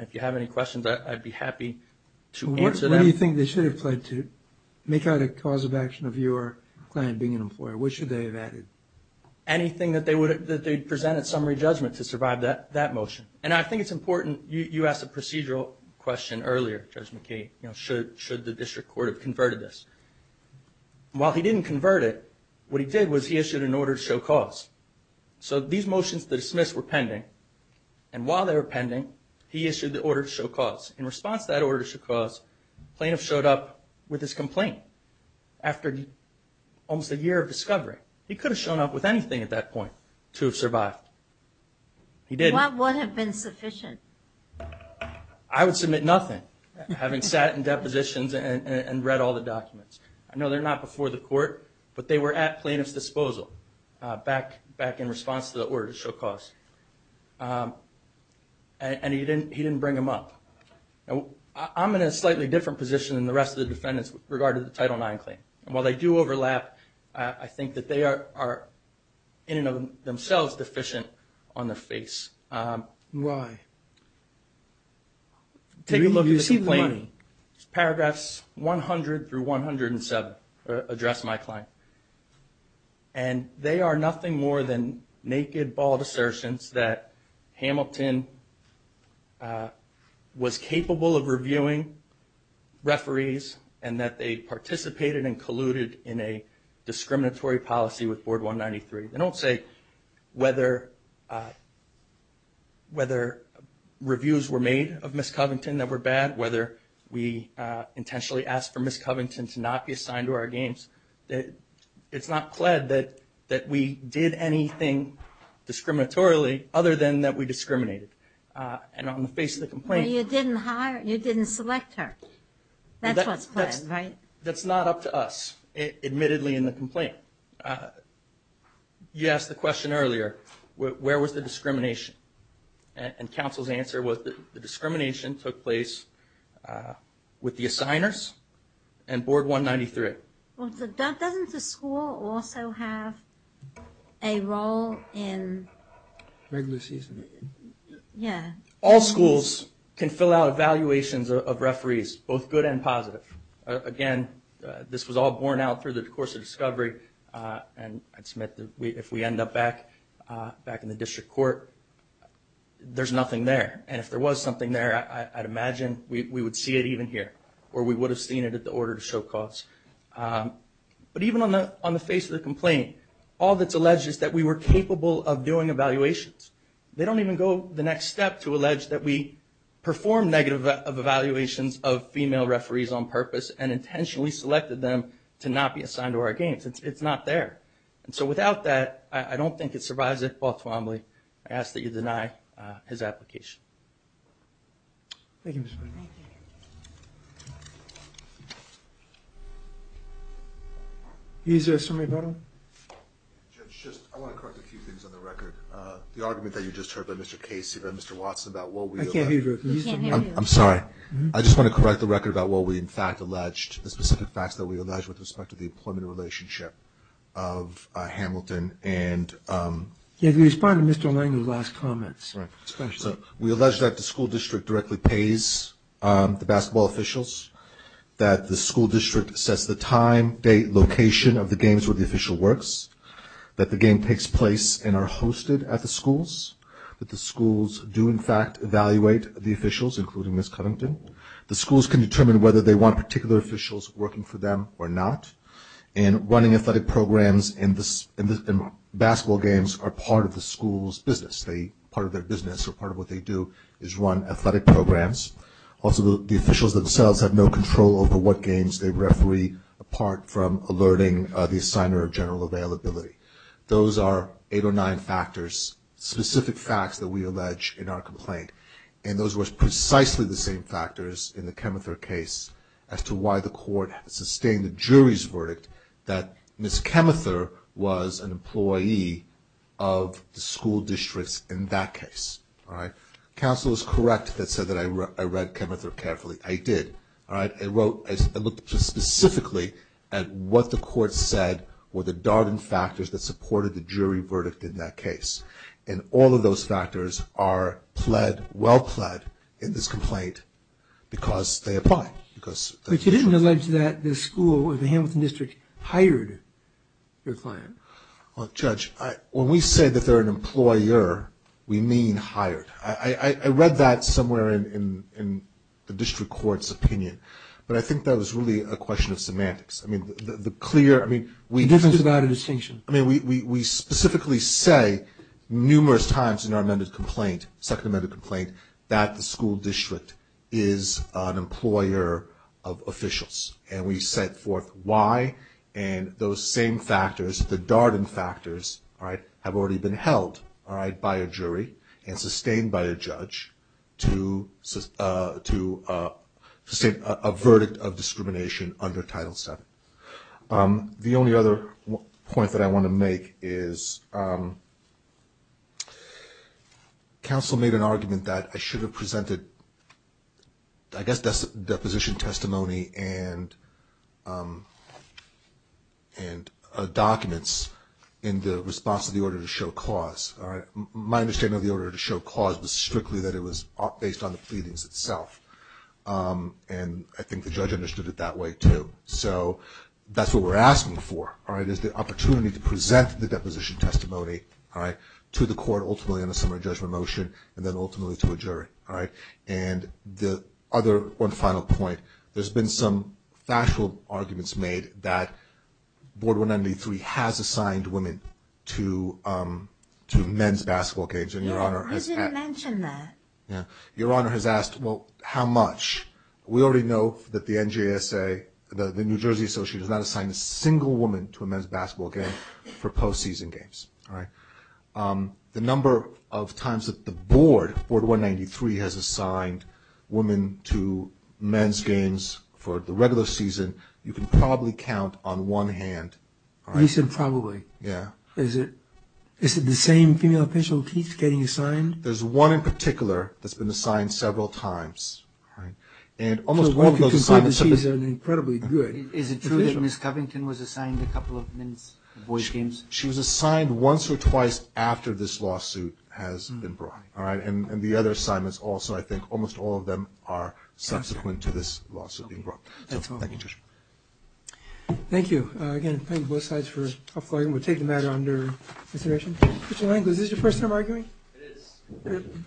If you have any questions, I'd be happy to answer them. What do you think they should have pled to make out a cause of action of your client being an employer? What should they have added? Anything that they'd present at summary judgment to survive that motion. And I think it's important, you asked a procedural question earlier, Judge McKay, should the district court have converted this? While he didn't convert it, what he did was he issued an order to show cause. So these motions to dismiss were pending. And while they were pending, he issued the order to show cause. In response to that order to show cause, plaintiff showed up with his complaint after almost a year of discovery. He could have shown up with anything at that point to have survived. He didn't. What would have been sufficient? I would submit nothing, having sat in depositions and read all the documents. I know they're not before the court, but they were at plaintiff's disposal back in response to the order to show cause. And he didn't bring them up. I'm in a slightly different position than the rest of the defendants with regard to the Title IX claim. And while they do overlap, I think that they are in and of themselves deficient on their face. Why? Take a look at the complaint. Paragraphs 100 through 107 address my claim. And they are nothing more than naked, bald assertions that Hamilton was capable of reviewing referees and that they participated and colluded in a discriminatory policy with Board 193. They don't say whether reviews were made of Ms. Covington that were bad, whether we intentionally asked for Ms. Covington to not be assigned to our games. It's not pled that we did anything discriminatorily other than that we discriminated. And on the face of the complaint — Well, you didn't select her. That's what's pled, right? That's not up to us, admittedly, in the complaint. You asked the question earlier, where was the discrimination? And counsel's answer was that the discrimination took place with the assigners and Board 193. Well, doesn't the school also have a role in — Regular season. Yeah. All schools can fill out evaluations of referees, both good and positive. Again, this was all borne out through the course of discovery. And I'd submit that if we end up back in the district court, there's nothing there. And if there was something there, I'd imagine we would see it even here, or we would have seen it at the order to show cause. But even on the face of the complaint, all that's alleged is that we were capable of doing evaluations. They don't even go the next step to allege that we performed negative evaluations of female referees on purpose and intentionally selected them to not be assigned to our games. It's not there. And so without that, I don't think it survives at Baltimore. I ask that you deny his application. Thank you, Mr. McDonough. Is there a summary battle? Judge, I want to correct a few things on the record. The argument that you just heard by Mr. Casey and Mr. Watson about what we — I can't hear you. I'm sorry. I just want to correct the record about what we in fact alleged, the specific facts that we alleged with respect to the employment relationship of Hamilton and — Yeah, can you respond to Mr. Langley's last comments? Right. We allege that the school district directly pays the basketball officials, that the school district sets the time, date, location of the games where the official works, that the game takes place and are hosted at the schools, that the schools do in fact evaluate the officials, including Ms. Cunnington. The schools can determine whether they want particular officials working for them or not. And running athletic programs in basketball games are part of the school's business. Part of their business or part of what they do is run athletic programs. Also, the officials themselves have no control over what games they referee, apart from alerting the signer of general availability. Those are eight or nine factors, specific facts that we allege in our complaint. And those were precisely the same factors in the Chemether case as to why the court sustained the jury's verdict that Ms. Chemether was an employee of the school districts in that case. All right. Counsel is correct that said that I read Chemether carefully. I did. All right. I wrote, I looked specifically at what the court said were the dardened factors that supported the jury verdict in that case. And all of those factors are pled, well pled in this complaint because they apply. But you didn't allege that the school or the Hamilton district hired your client. Well, Judge, when we say that they're an employer, we mean hired. I read that somewhere in the district court's opinion. But I think that was really a question of semantics. I mean, the clear, I mean, we specifically say numerous times in our amended complaint, second amended complaint, that the school district is an employer of officials. And we set forth why. And those same factors, the dardened factors, all right, have already been held, all right, by a jury and sustained by a judge to a verdict of discrimination under Title VII. The only other point that I want to make is counsel made an argument that I should have presented, I guess, deposition testimony and documents in the response of the order to show cause, all right. My understanding of the order to show cause was strictly that it was based on the pleadings itself. And I think the judge understood it that way, too. So that's what we're asking for, all right, is the opportunity to present the deposition testimony, all right, to the court ultimately on a summary judgment motion and then ultimately to a jury, all right. And the other one final point, there's been some factual arguments made that Board 193 has assigned women to men's basketball games. And Your Honor has asked. I didn't mention that. Yeah. Your Honor has asked, well, how much? We already know that the NJSA, the New Jersey Association, does not assign a single woman to a men's basketball game for post-season games, all right. The number of times that the Board, Board 193, has assigned women to men's games for the regular season, you can probably count on one hand, all right. You said probably. Yeah. Is it the same female officials getting assigned? There's one in particular that's been assigned several times, all right. She's an incredibly good official. Is it true that Ms. Covington was assigned a couple of men's boys games? She was assigned once or twice after this lawsuit has been brought, all right. And the other assignments also, I think, almost all of them are subsequent to this lawsuit being brought. That's all. Thank you, Judge. Thank you. Again, thank you both sides for offloading. We'll take the matter under consideration. Mr. Lankford, is this your first time arguing? It is.